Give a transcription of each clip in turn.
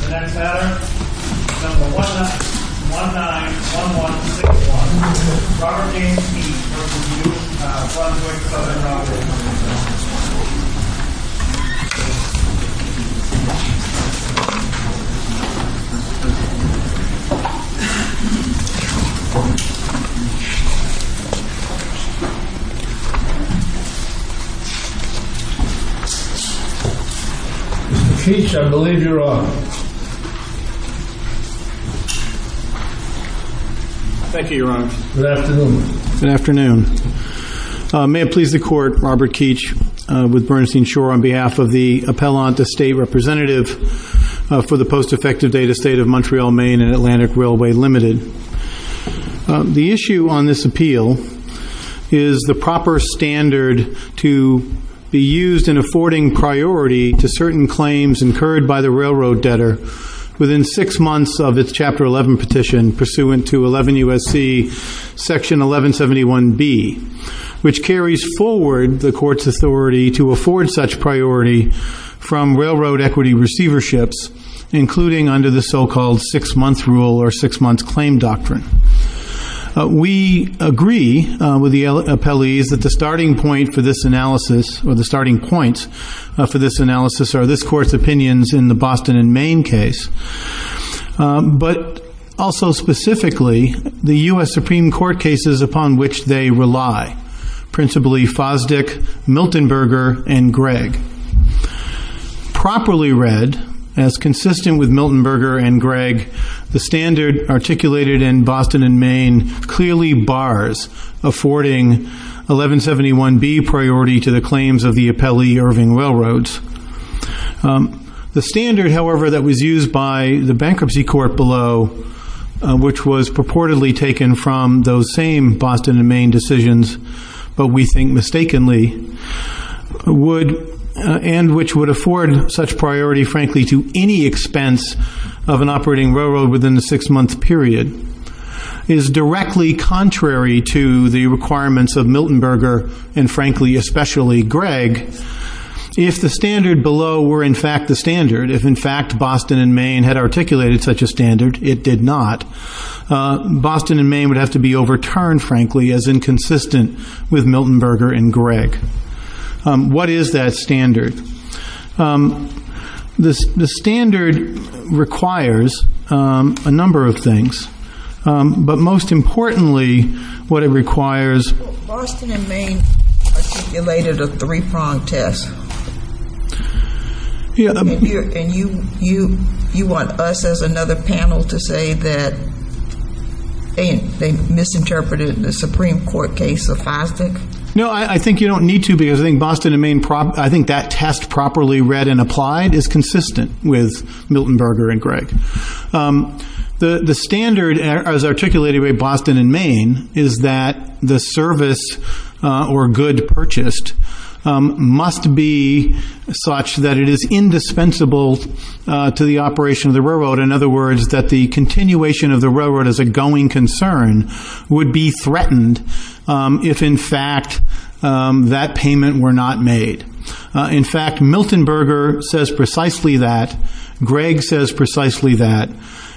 The next batter is number 191161, Robert James Beach v. New Brunswick S. R. W. Co. Ltd. Mr. Keech, I believe you're on. Thank you, Your Honor. Good afternoon. Good afternoon. May it please the Court, Robert Keech with Bernstein Shore on behalf of the Appellant to State Representative for the Post-Effective Data State of Montreal, Maine and Atlantic Railway Ltd. The issue on this appeal is the proper standard to be used in affording priority to certain claims incurred by the railroad debtor within six months of its Chapter 11 petition pursuant to 11 U.S.C. Section 1171B, which carries forward the Court's authority to afford such priority from railroad equity receiverships, including under the so-called six-month rule or six-month claim doctrine. We agree with the appellees that the starting point for this analysis or the starting points for this analysis are this Court's opinions in the Boston and Maine case, but also specifically the U.S. Supreme Court cases upon which they rely, principally Fosdick, Miltonberger and Gregg. Properly read, as consistent with Miltonberger and Gregg, the standard articulated in Boston and Maine clearly bars affording 1171B priority to the claims of the appellee Irving Railroads. The standard, however, that was used by the bankruptcy court below, which was purportedly taken from those same Boston and Maine decisions, but we think mistakenly, and which would afford such priority, frankly, to any expense of an operating railroad within a six-month period, is directly contrary to the requirements of Miltonberger and, frankly, especially Gregg. If the standard below were, in fact, the standard, if, in fact, Boston and Maine had articulated such a standard, it did not, Boston and Maine would have to be overturned, frankly, as inconsistent with Miltonberger and Gregg. What is that standard? The standard requires a number of things, but most importantly, what it requires- I think you don't need to, because I think Boston and Maine- I think that test, properly read and applied, is consistent with Miltonberger and Gregg. The standard, as articulated by Boston and Maine, is that the service, or good purchased, must be such that it is indispensable to the operation of the railroad. In other words, that the continuation of the railroad as a going concern would be threatened if, in fact, that payment were not made. In fact, Miltonberger says precisely that. Gregg says precisely that.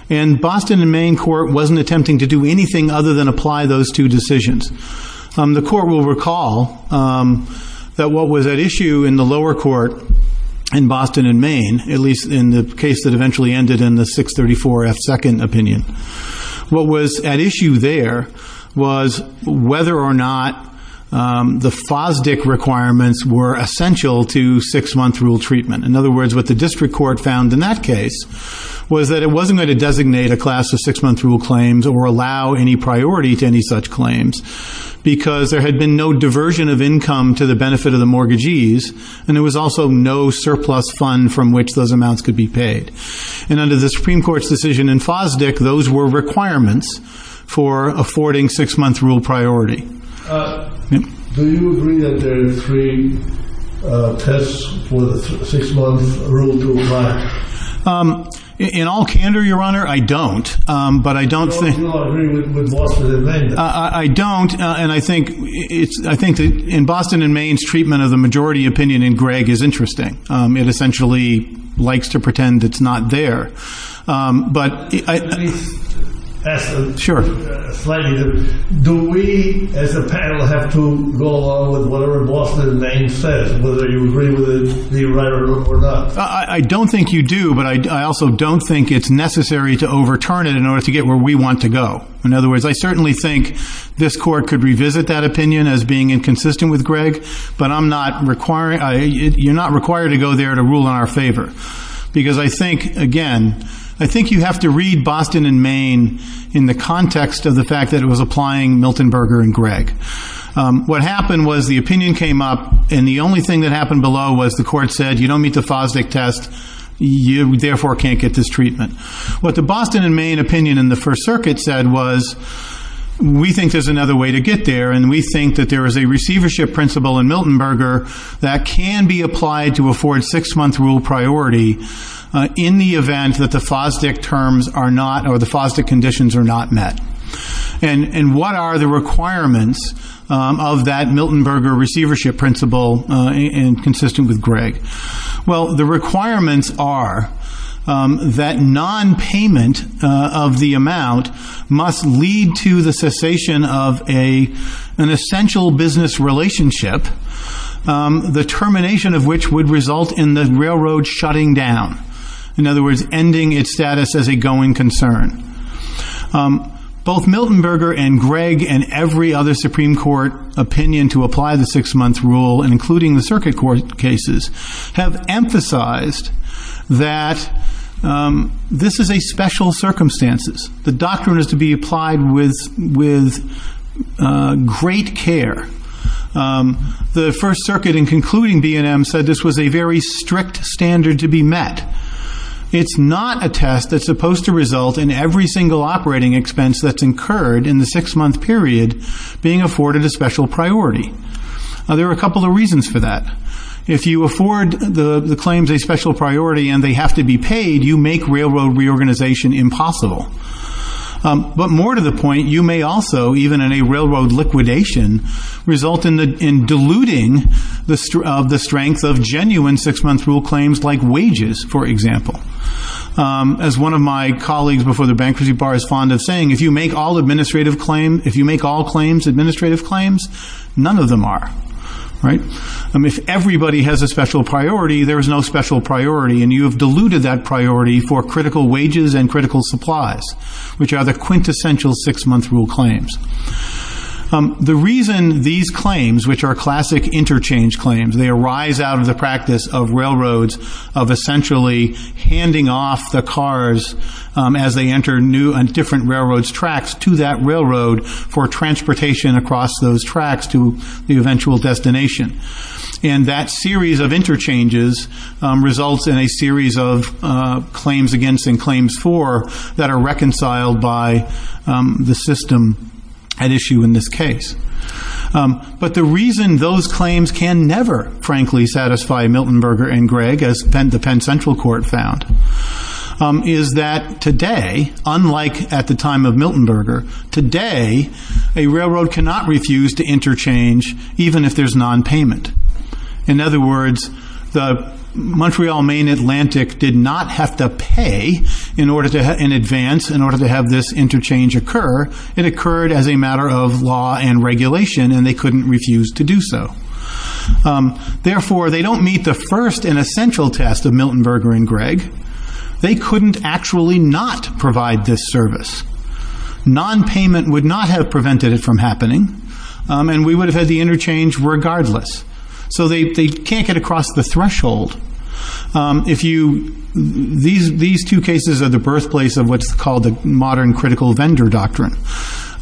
And Boston and Maine court wasn't attempting to do anything other than apply those two decisions. The court will recall that what was at issue in the lower court in Boston and Maine, at least in the case that eventually ended in the 634 F. Second opinion, what was at issue there was whether or not the FOSDIC requirements were essential to six-month rule treatment. In other words, what the district court found in that case was that it wasn't going to designate a class of six-month rule claims or allow any priority to any such claims because there had been no diversion of income to the benefit of the mortgagees, and there was also no surplus fund from which those amounts could be paid. And under the Supreme Court's decision in FOSDIC, those were requirements for affording six-month rule priority. Do you agree that there are three tests for the six-month rule to apply? In all candor, Your Honor, I don't. But I don't think... Do you agree with Boston and Maine? I don't, and I think in Boston and Maine's treatment of the majority opinion in Gregg is interesting. It essentially likes to pretend it's not there. But I... Let me ask them. Sure. Slightly different. Do we, as a panel, have to go along with whatever Boston and Maine says, whether you agree with the right or wrong or not? I don't think you do, but I also don't think it's necessary to overturn it in order to get where we want to go. In other words, I certainly think this Court could revisit that opinion as being inconsistent with Gregg, but I'm not requiring... You're not required to go there to rule in our favor. Because I think, again, I think you have to read Boston and Maine in the context of the fact that it was applying Milton Berger and Gregg. What happened was the opinion came up, and the only thing that happened below was the you therefore can't get this treatment. What the Boston and Maine opinion in the First Circuit said was, we think there's another way to get there, and we think that there is a receivership principle in Milton Berger that can be applied to afford six-month rule priority in the event that the FOSDIC terms are not... Or the FOSDIC conditions are not met. And what are the requirements of that Milton Berger receivership principle, and consistent with Gregg? Well, the requirements are that non-payment of the amount must lead to the cessation of an essential business relationship, the termination of which would result in the railroad shutting down. In other words, ending its status as a going concern. Both Milton Berger and Gregg and every other Supreme Court opinion to apply the six-month rule, including the circuit court cases, have emphasized that this is a special circumstances. The doctrine is to be applied with great care. The First Circuit in concluding BNM said this was a very strict standard to be met. It's not a test that's supposed to result in every single operating expense that's incurred in the six-month period being afforded a special priority. There are a couple of reasons for that. If you afford the claims a special priority and they have to be paid, you make railroad reorganization impossible. But more to the point, you may also, even in a railroad liquidation, result in diluting the strength of genuine six-month rule claims like wages, for example. As one of my colleagues before the Bankruptcy Bar is fond of saying, if you make all administrative claims, none of them are. If everybody has a special priority, there is no special priority, and you have diluted that priority for critical wages and critical supplies, which are the quintessential six-month rule claims. The reason these claims, which are classic interchange claims, they arise out of the practice of railroads, of essentially handing off the cars as they enter new and different railroad's tracks to that railroad for transportation across those tracks to the eventual destination. And that series of interchanges results in a series of claims against and claims for that are reconciled by the system at issue in this case. But the reason those claims can never, frankly, satisfy Milton Berger and Gregg, as the Penn Central Court found, is that today, unlike at the time of Milton Berger, today a railroad cannot refuse to interchange even if there's non-payment. In other words, the Montreal, Maine, Atlantic did not have to pay in advance in order to have this interchange occur. It occurred as a matter of law and regulation, and they couldn't refuse to do so. Therefore, they don't meet the first and essential test of Milton Berger and Gregg. They couldn't actually not provide this service. Non-payment would not have prevented it from happening, and we would have had the interchange regardless. So they can't get across the threshold. These two cases are the birthplace of what's called the modern critical vendor doctrine,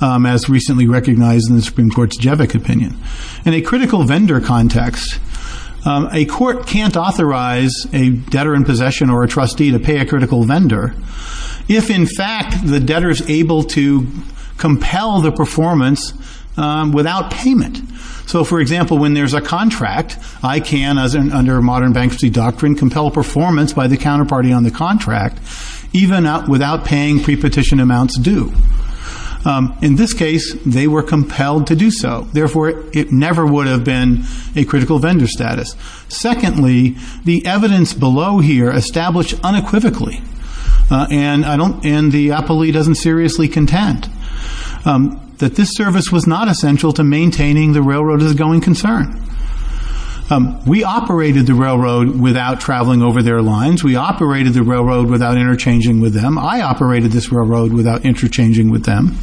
as recently recognized in the Supreme Court's Jevick opinion. In a critical vendor context, a court can't authorize a debtor in possession or a trustee to pay a critical vendor if, in fact, the debtor is able to compel the performance without payment. So, for example, when there's a contract, I can, under modern bankruptcy doctrine, compel performance by the counterparty on the contract even without paying pre-petition amounts due. In this case, they were compelled to do so. Therefore, it never would have been a critical vendor status. Secondly, the evidence below here established unequivocally, and the appellee doesn't seriously contend, that this service was not essential to maintaining the railroad as a going concern. We operated the railroad without traveling over their lines. We operated the railroad without interchanging with them. I operated this railroad without interchanging with them.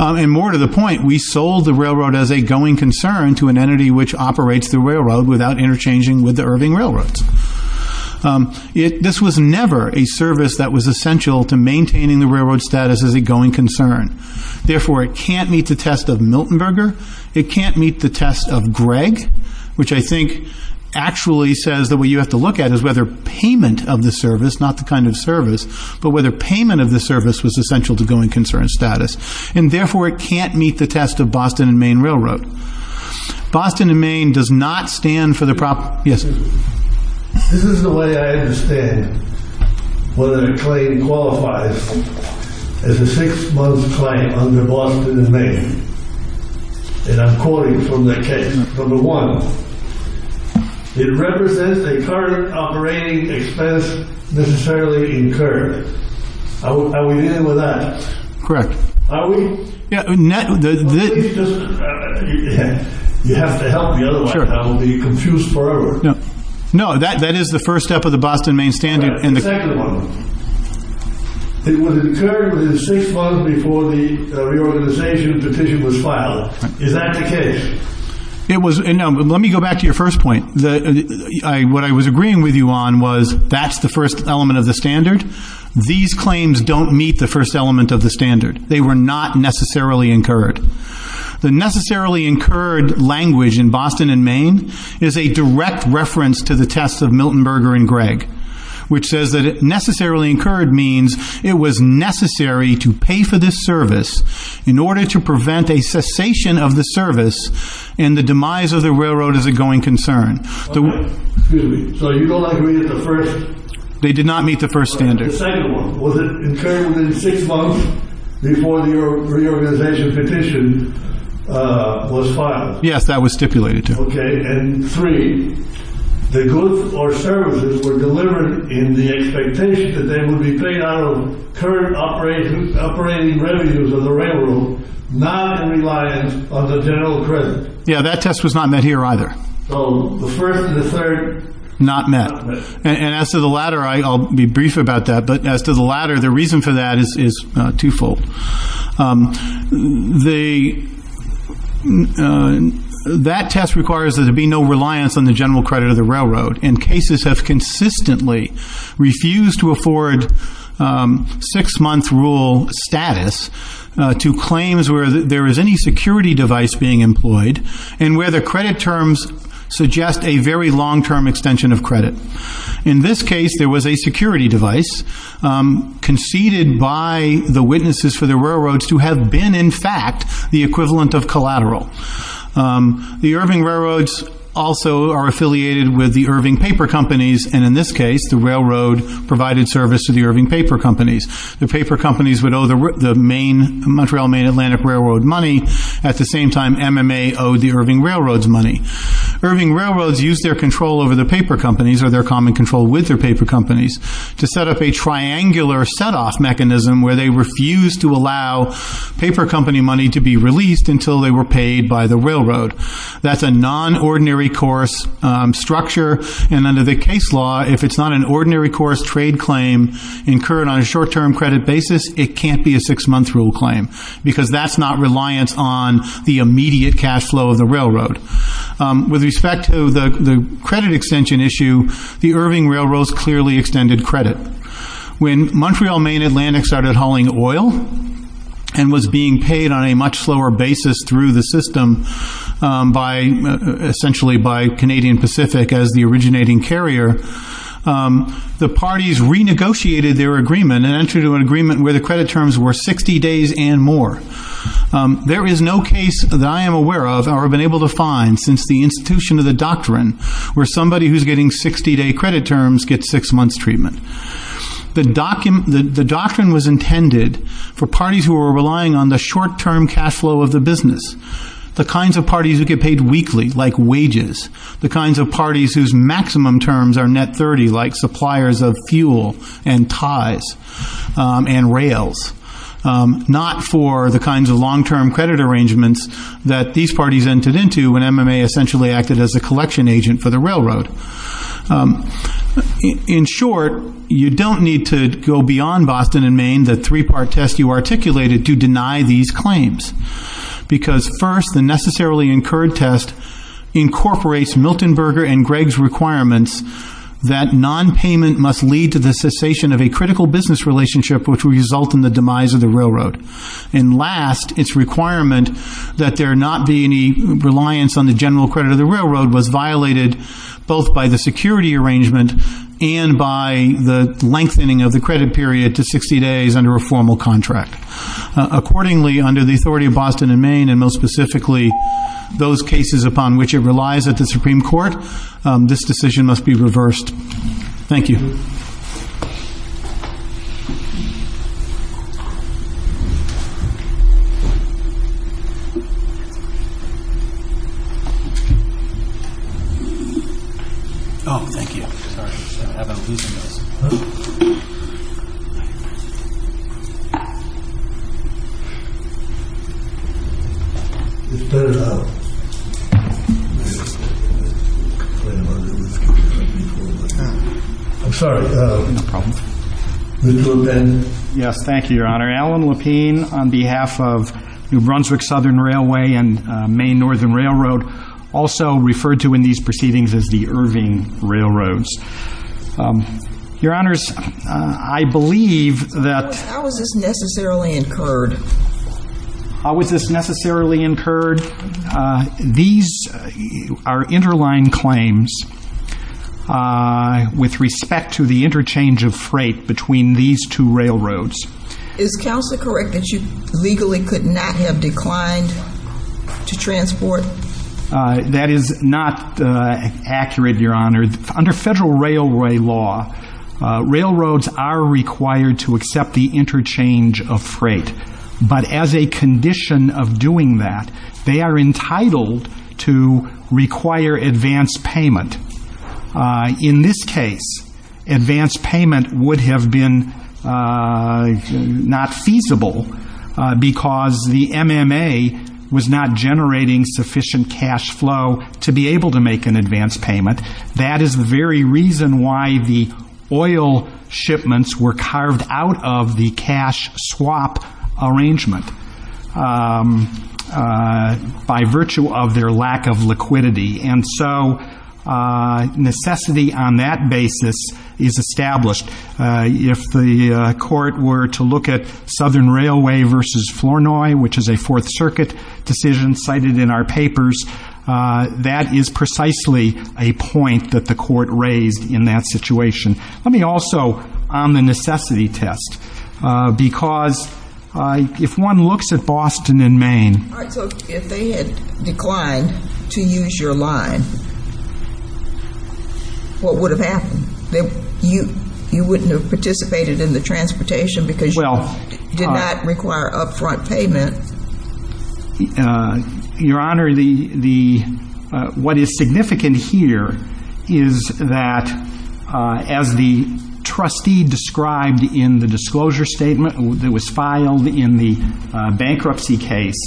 And more to the point, we sold the railroad as a going concern to an entity which operates the railroad without interchanging with the Irving Railroads. This was never a service that was essential to maintaining the railroad status as a going concern. Therefore, it can't meet the test of Milton Berger. It can't meet the test of Gregg, which I think actually says that what you have to look at is whether payment of the service, not the kind of service, but whether payment of the service. And therefore, it can't meet the test of Boston and Main Railroad. Boston and Main does not stand for the proper, yes? This is the way I understand whether a claim qualifies as a six-month claim under Boston and Main. And I'm quoting from the case number one, it represents a current operating expense necessarily incurred. Are we in with that? Correct. Are we? Yeah. You have to help me otherwise I will be confused forever. No. That is the first step of the Boston Main Standard. The second one. It was incurred within six months before the reorganization petition was filed. Is that the case? Let me go back to your first point. What I was agreeing with you on was that's the first element of the standard. These claims don't meet the first element of the standard. They were not necessarily incurred. The necessarily incurred language in Boston and Main is a direct reference to the test of Milton Berger and Gregg, which says that necessarily incurred means it was necessary to pay for this service in order to prevent a cessation of the service and the demise of the railroad as a going concern. Excuse me. So you don't agree with the first? They did not meet the first standard. The second one. Was it incurred within six months before the reorganization petition was filed? Yes, that was stipulated to. Okay. And three, the goods or services were delivered in the expectation that they would be paid out of current operating revenues of the railroad, not in reliance on the general credit. Yeah. That test was not met here either. So the first and the third? Not met. And as to the latter, I'll be brief about that. But as to the latter, the reason for that is twofold. That test requires that there be no reliance on the general credit of the railroad. And cases have consistently refused to afford six-month rule status to claims where there is any security device being employed and where the credit terms suggest a very long-term extension of credit. In this case, there was a security device conceded by the witnesses for the railroads to have been, in fact, the equivalent of collateral. The Irving Railroads also are affiliated with the Irving Paper Companies, and in this case, the railroad provided service to the Irving Paper Companies. The paper companies would owe the Montreal Main Atlantic Railroad money. At the same time, MMA owed the Irving Railroads money. Irving Railroads used their control over the paper companies, or their common control with their paper companies, to set up a triangular set-off mechanism where they refused to allow paper company money to be released until they were paid by the railroad. That's a non-ordinary course structure. And under the case law, if it's not an ordinary course trade claim incurred on a short-term credit basis, it can't be a six-month rule claim because that's not reliance on the immediate cash flow of the railroad. With respect to the credit extension issue, the Irving Railroads clearly extended credit. When Montreal Main Atlantic started hauling oil and was being paid on a much slower basis through the system, essentially by Canadian Pacific as the originating carrier, the parties renegotiated their agreement and entered into an agreement where the credit terms were 60 days and more. There is no case that I am aware of or have been able to find since the institution of the doctrine where somebody who's getting 60-day credit terms gets six-months treatment. The doctrine was intended for parties who were relying on the short-term cash flow of the business, the kinds of parties who get paid weekly, like wages, the kinds of parties whose maximum terms are net 30, like suppliers of fuel and ties and rails, not for the kinds of long-term credit arrangements that these parties entered into when MMA essentially acted as a collection agent for the railroad. In short, you don't need to go beyond Boston and Maine, the three-part test you articulated, to deny these claims. Because first, the necessarily incurred test incorporates Milton Berger and Gregg's requirements that non-payment must lead to the cessation of a critical business relationship which would result in the demise of the railroad. And last, its requirement that there not be any reliance on the general credit of the railroad was violated both by the security arrangement and by the lengthening of the credit period to 60 days under a formal contract. Accordingly, under the authority of Boston and Maine, and most specifically those cases upon which it relies at the Supreme Court, this decision must be reversed. Thank you. I'm sorry. No problem. Mr. LePen. Yes. Thank you, Your Honor. Alan LePen, on behalf of New Brunswick Southern Railway and Maine Northern Railroad, also referred to in these proceedings as the Irving Railroads. Your Honors, I believe that- How is this necessarily incurred? How is this necessarily incurred? These are interline claims with respect to the interchange of freight between these two railroads. Is counsel correct that you legally could not have declined to transport? That is not accurate, Your Honor. Under federal railway law, railroads are required to accept the interchange of freight. But as a condition of doing that, they are entitled to require advance payment. In this case, advance payment would have been not feasible because the MMA was not generating sufficient cash flow to be able to make an advance payment. That is the very reason why the oil shipments were carved out of the cash swap arrangement, by virtue of their lack of liquidity. And so, necessity on that basis is established. If the Court were to look at Southern Railway v. Flournoy, which is a Fourth Circuit decision cited in our papers, that is precisely a point that the Court raised in that situation. Let me also, on the necessity test, because if one looks at Boston and Maine- All right. So if they had declined to use your line, what would have happened? You wouldn't have participated in the transportation because you did not require upfront payment. Your Honor, what is significant here is that, as the trustee described in the disclosure statement that was filed in the bankruptcy case,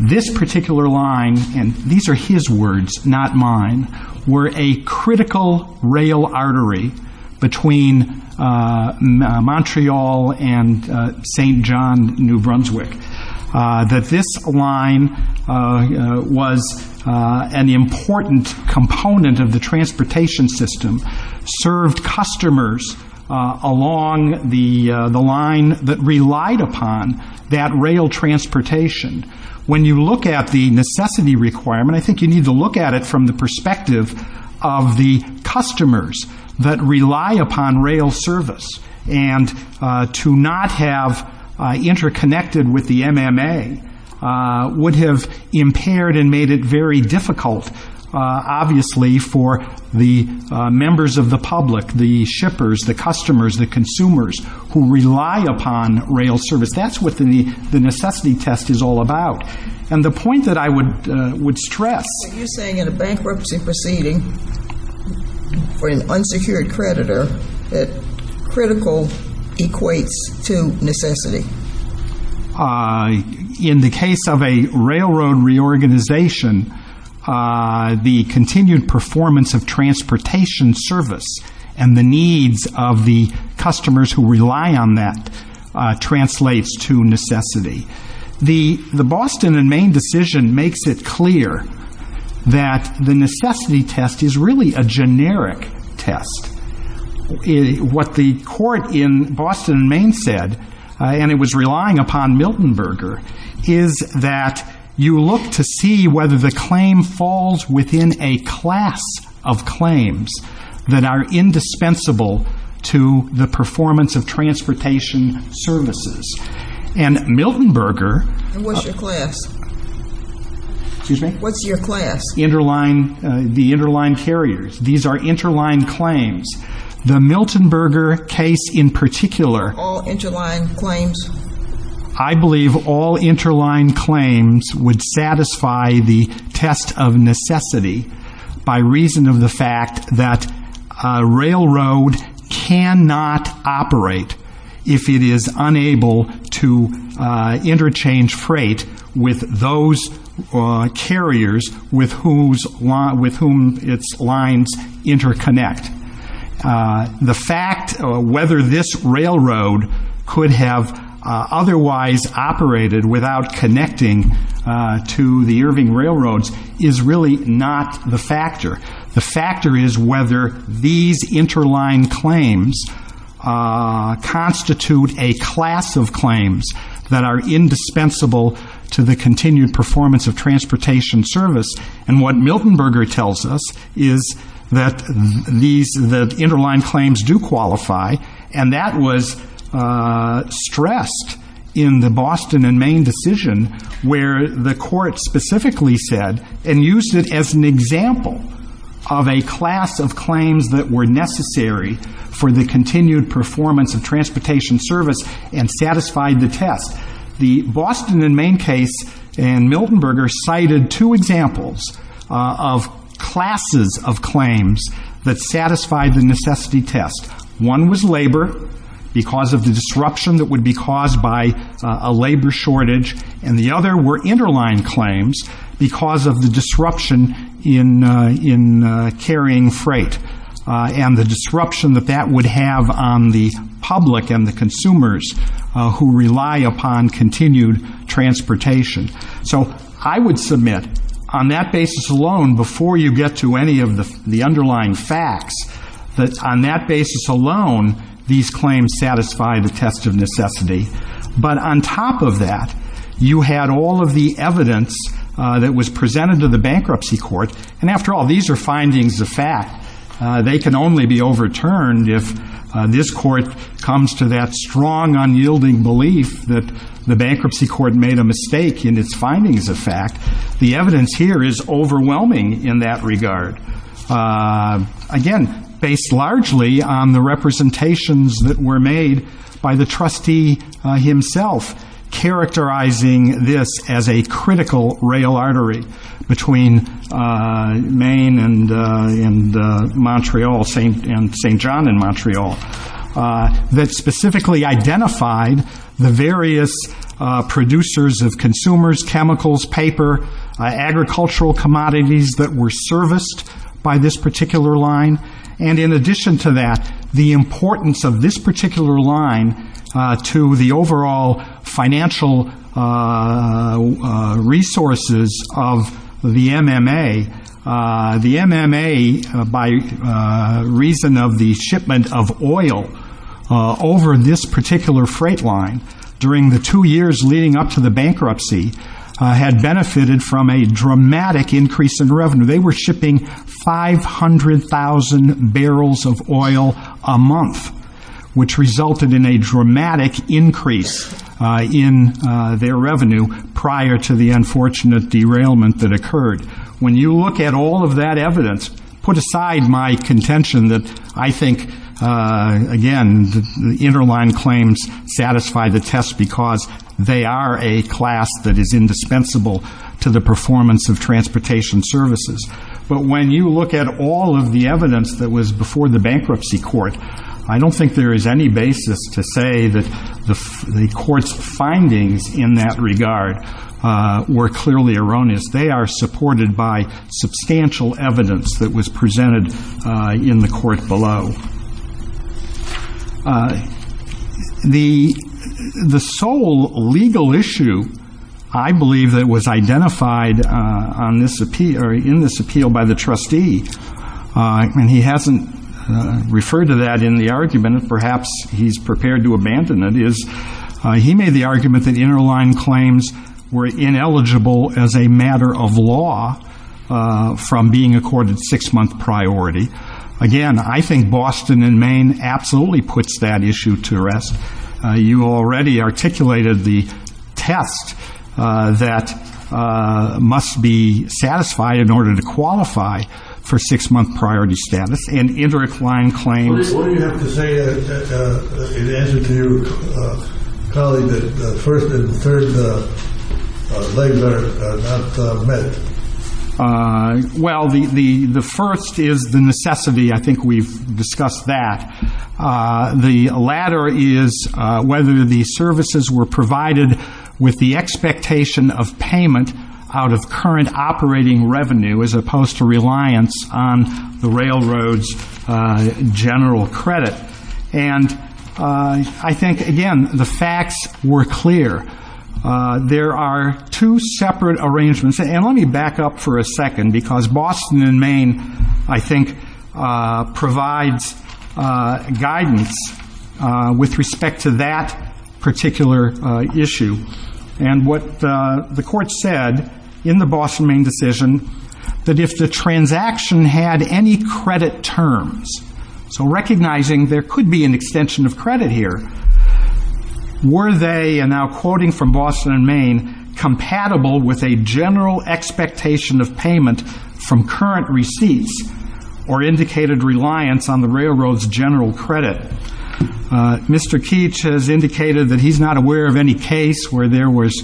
this particular line, and these are his words, not mine, were a critical rail artery between Montreal and St. John, New Brunswick. That this line was an important component of the transportation system, served customers along the line that relied upon that rail transportation. When you look at the necessity requirement, I think you need to look at it from the perspective of the customers that rely upon rail service. And to not have interconnected with the MMA would have impaired and made it very difficult, obviously, for the members of the public, the shippers, the customers, the consumers who rely upon rail service. That's what the necessity test is all about. And the point that I would stress- But you're saying in a bankruptcy proceeding, for an unsecured creditor, that critical equates to necessity. In the case of a railroad reorganization, the continued performance of transportation service and the needs of the customers who rely on that translates to necessity. The Boston and Maine decision makes it clear that the necessity test is really a generic test. What the court in Boston and Maine said, and it was relying upon Milton Berger, is that you look to see whether the claim falls within a class of claims that are indispensable to the performance of transportation services. And Milton Berger- And what's your class? Excuse me? What's your class? Interline, the interline carriers. These are interline claims. The Milton Berger case in particular- All interline claims? I believe all interline claims would satisfy the test of necessity by reason of the fact that a railroad cannot operate if it is unable to interchange freight with those carriers with whom its lines interconnect. The fact whether this railroad could have otherwise operated without connecting to the Irving railroads is really not the factor. The factor is whether these interline claims constitute a class of claims that are indispensable to the continued performance of transportation service. And what Milton Berger tells us is that these, the interline claims do qualify. And that was stressed in the Boston and Maine decision where the court specifically said and used it as an example of a class of claims that were necessary for the continued performance of transportation service and satisfied the test. The Boston and Maine case and Milton Berger cited two examples of classes of claims that satisfy the necessity test. One was labor because of the disruption that would be caused by a labor shortage. And the other were interline claims because of the disruption in carrying freight. And the disruption that that would have on the public and the consumers who rely upon continued transportation. So I would submit on that basis alone, before you get to any of the underlying facts, that on that basis alone, these claims satisfy the test of necessity. But on top of that, you had all of the evidence that was presented to the bankruptcy court. And after all, these are findings of fact. They can only be overturned if this court comes to that strong unyielding belief that the bankruptcy court made a mistake in its findings of fact. The evidence here is overwhelming in that regard. Again, based largely on the representations that were made by the trustee himself, characterizing this as a critical rail artery between Maine and Montreal, St. John and Montreal, that specifically identified the various producers of consumers, chemicals, paper, agricultural commodities that were serviced by this particular line. And in addition to that, the importance of this particular line to the overall financial resources of the MMA. The MMA, by reason of the shipment of oil over this particular freight line during the two years leading up to the bankruptcy, had benefited from a dramatic increase in revenue. They were shipping 500,000 barrels of oil a month, which resulted in a dramatic increase in their revenue prior to the unfortunate derailment that occurred. When you look at all of that evidence, put aside my contention that I think, again, the interline claims satisfy the test because they are a class that is indispensable to the performance of transportation services. But when you look at all of the evidence that was before the bankruptcy court, I don't think there is any basis to say that the court's findings in that regard were clearly erroneous. They are supported by substantial evidence that was presented in the court below. The sole legal issue, I believe, that was identified in this appeal by the trustee, and he hasn't referred to that in the argument, perhaps he's prepared to abandon it, is he made the argument that interline claims were ineligible as a matter of law from being accorded six-month priority. Again, I think Boston and Maine absolutely puts that issue to rest. You already articulated the test that must be satisfied in order to qualify for some six-month priority status, and interline claims... What do you have to say in answer to your colleague that the first and third legs are not met? Well, the first is the necessity. I think we've discussed that. The latter is whether the services were provided with the expectation of payment out of current operating revenue as opposed to reliance on the railroad's general credit. I think, again, the facts were clear. There are two separate arrangements, and let me back up for a second because Boston and Maine, I think, provides guidance with respect to that particular issue. What the court said in the Boston-Maine decision, that if the transaction had any credit terms, so recognizing there could be an extension of credit here, were they, and now quoting from Boston and Maine, compatible with a general expectation of payment from current receipts or indicated reliance on the railroad's general credit? Mr. Keech has indicated that he's not aware of any case where there was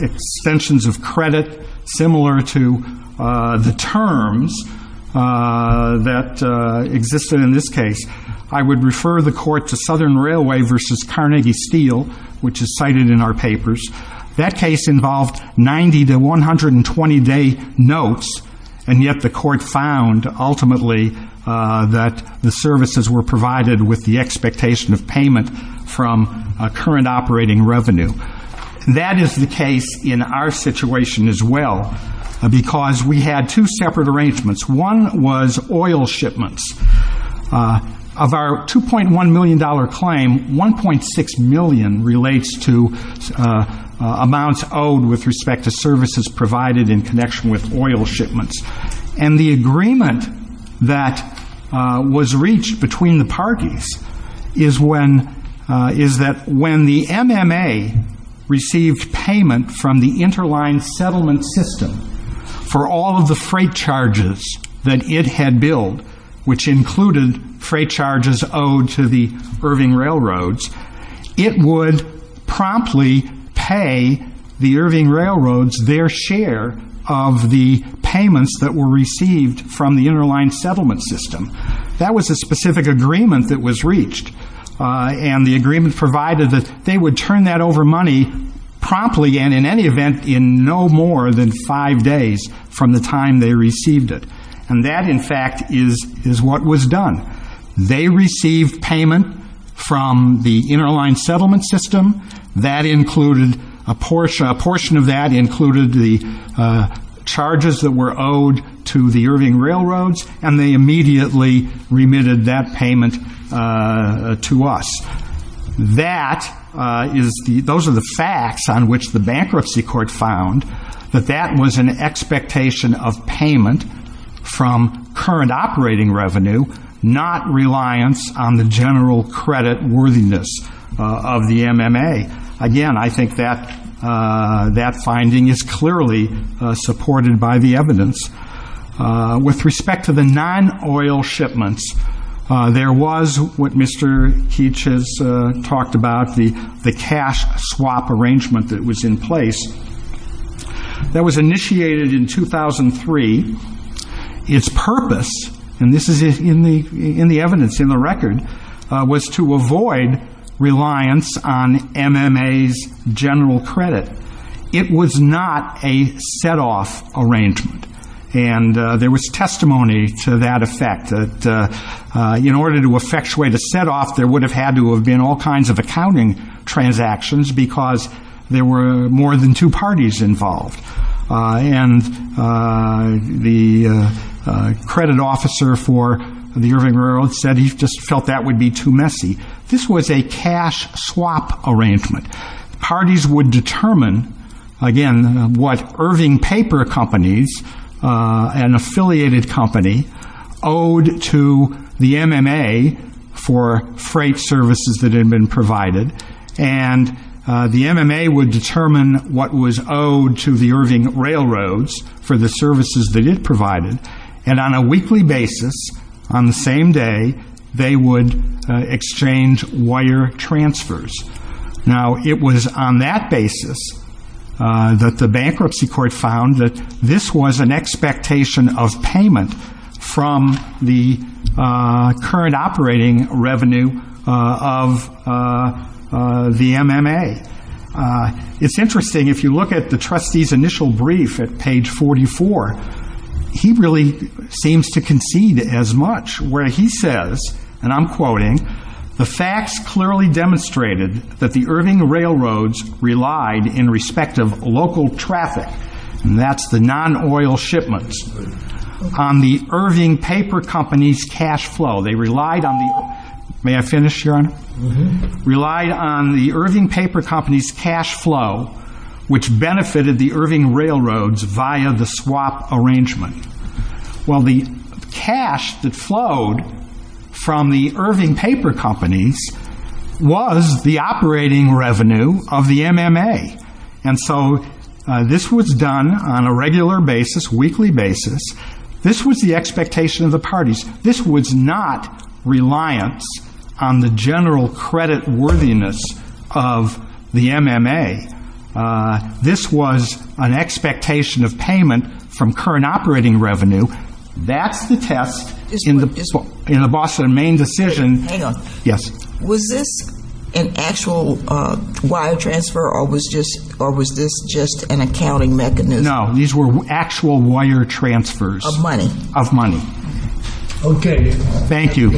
extensions of credit similar to the terms that existed in this case. I would refer the court to Southern Railway v. Carnegie Steel, which is cited in our papers. That case involved 90- to 120-day notes, and yet the court found, ultimately, that the services were provided with the expectation of payment from current operating revenue. That is the case in our situation as well, because we had two separate arrangements. One was oil shipments. Of our $2.1 million claim, $1.6 million relates to amounts owed with respect to services provided in connection with oil shipments. And the agreement that was reached between the parties is that when the MMA received payment from the interline settlement system for all of the freight charges that it had billed, which included freight charges owed to the Irving Railroads, it would promptly pay the Irving Railroads their share of the payments that were received from the interline settlement system. That was a specific agreement that was reached, and the agreement provided that they would turn that over money promptly, and in any event, in no more than five days from the time they received it. And that, in fact, is what was done. They received payment from the interline settlement system. That included a portion of that included the charges that were owed to the Irving Railroads, and they immediately remitted that payment to us. That is the, those are the facts on which the bankruptcy court found, that that was an expectation of payment from current operating revenue, not reliance on the general credit worthiness of the MMA. Again, I think that, that finding is clearly supported by the evidence. With respect to the non-oil shipments, there was what Mr. Keech has talked about, the cash swap arrangement that was in place. That was initiated in 2003. Its purpose, and this is in the evidence, in the record, was to avoid reliance on MMA's general credit. It was not a set-off arrangement, and there was testimony to that effect, that in order to effectuate a set-off, there would have had to have been all kinds of accounting transactions, because there were more than two parties involved. And the credit officer for the Irving Railroads said he just felt that would be too messy. This was a cash swap arrangement. Parties would determine, again, what Irving Paper Companies, an affiliated company, owed to the MMA for freight services that had been provided, and the MMA would determine what was owed to the Irving Railroads for the services that it provided, and on a weekly basis, on the same day, they would exchange wire transfers. Now, it was on that arrangement, from the current operating revenue of the MMA. It's interesting, if you look at the trustee's initial brief at page 44, he really seems to concede as much, where he says, and I'm quoting, the facts clearly demonstrated that the Irving Railroads relied in respect of local traffic, and that's the non-oil shipments, on the Irving Paper Companies cash flow. They relied on the, may I finish, Your Honor? Relied on the Irving Paper Companies cash flow, which benefited the Irving Railroads via the swap arrangement. Well, the cash that flowed from the Irving Paper Companies was the operating revenue of the MMA, and the operating revenue of the Irving Paper Companies, and so this was done on a regular basis, weekly basis. This was the expectation of the parties. This was not reliance on the general credit worthiness of the MMA. This was an expectation of payment from current operating revenue. That's the test in the Boston main decision. Hang on. Yes. Was this an actual wire transfer, or was this just an accounting mechanism? No, these were actual wire transfers. Of money? Of money. Okay. Thank you.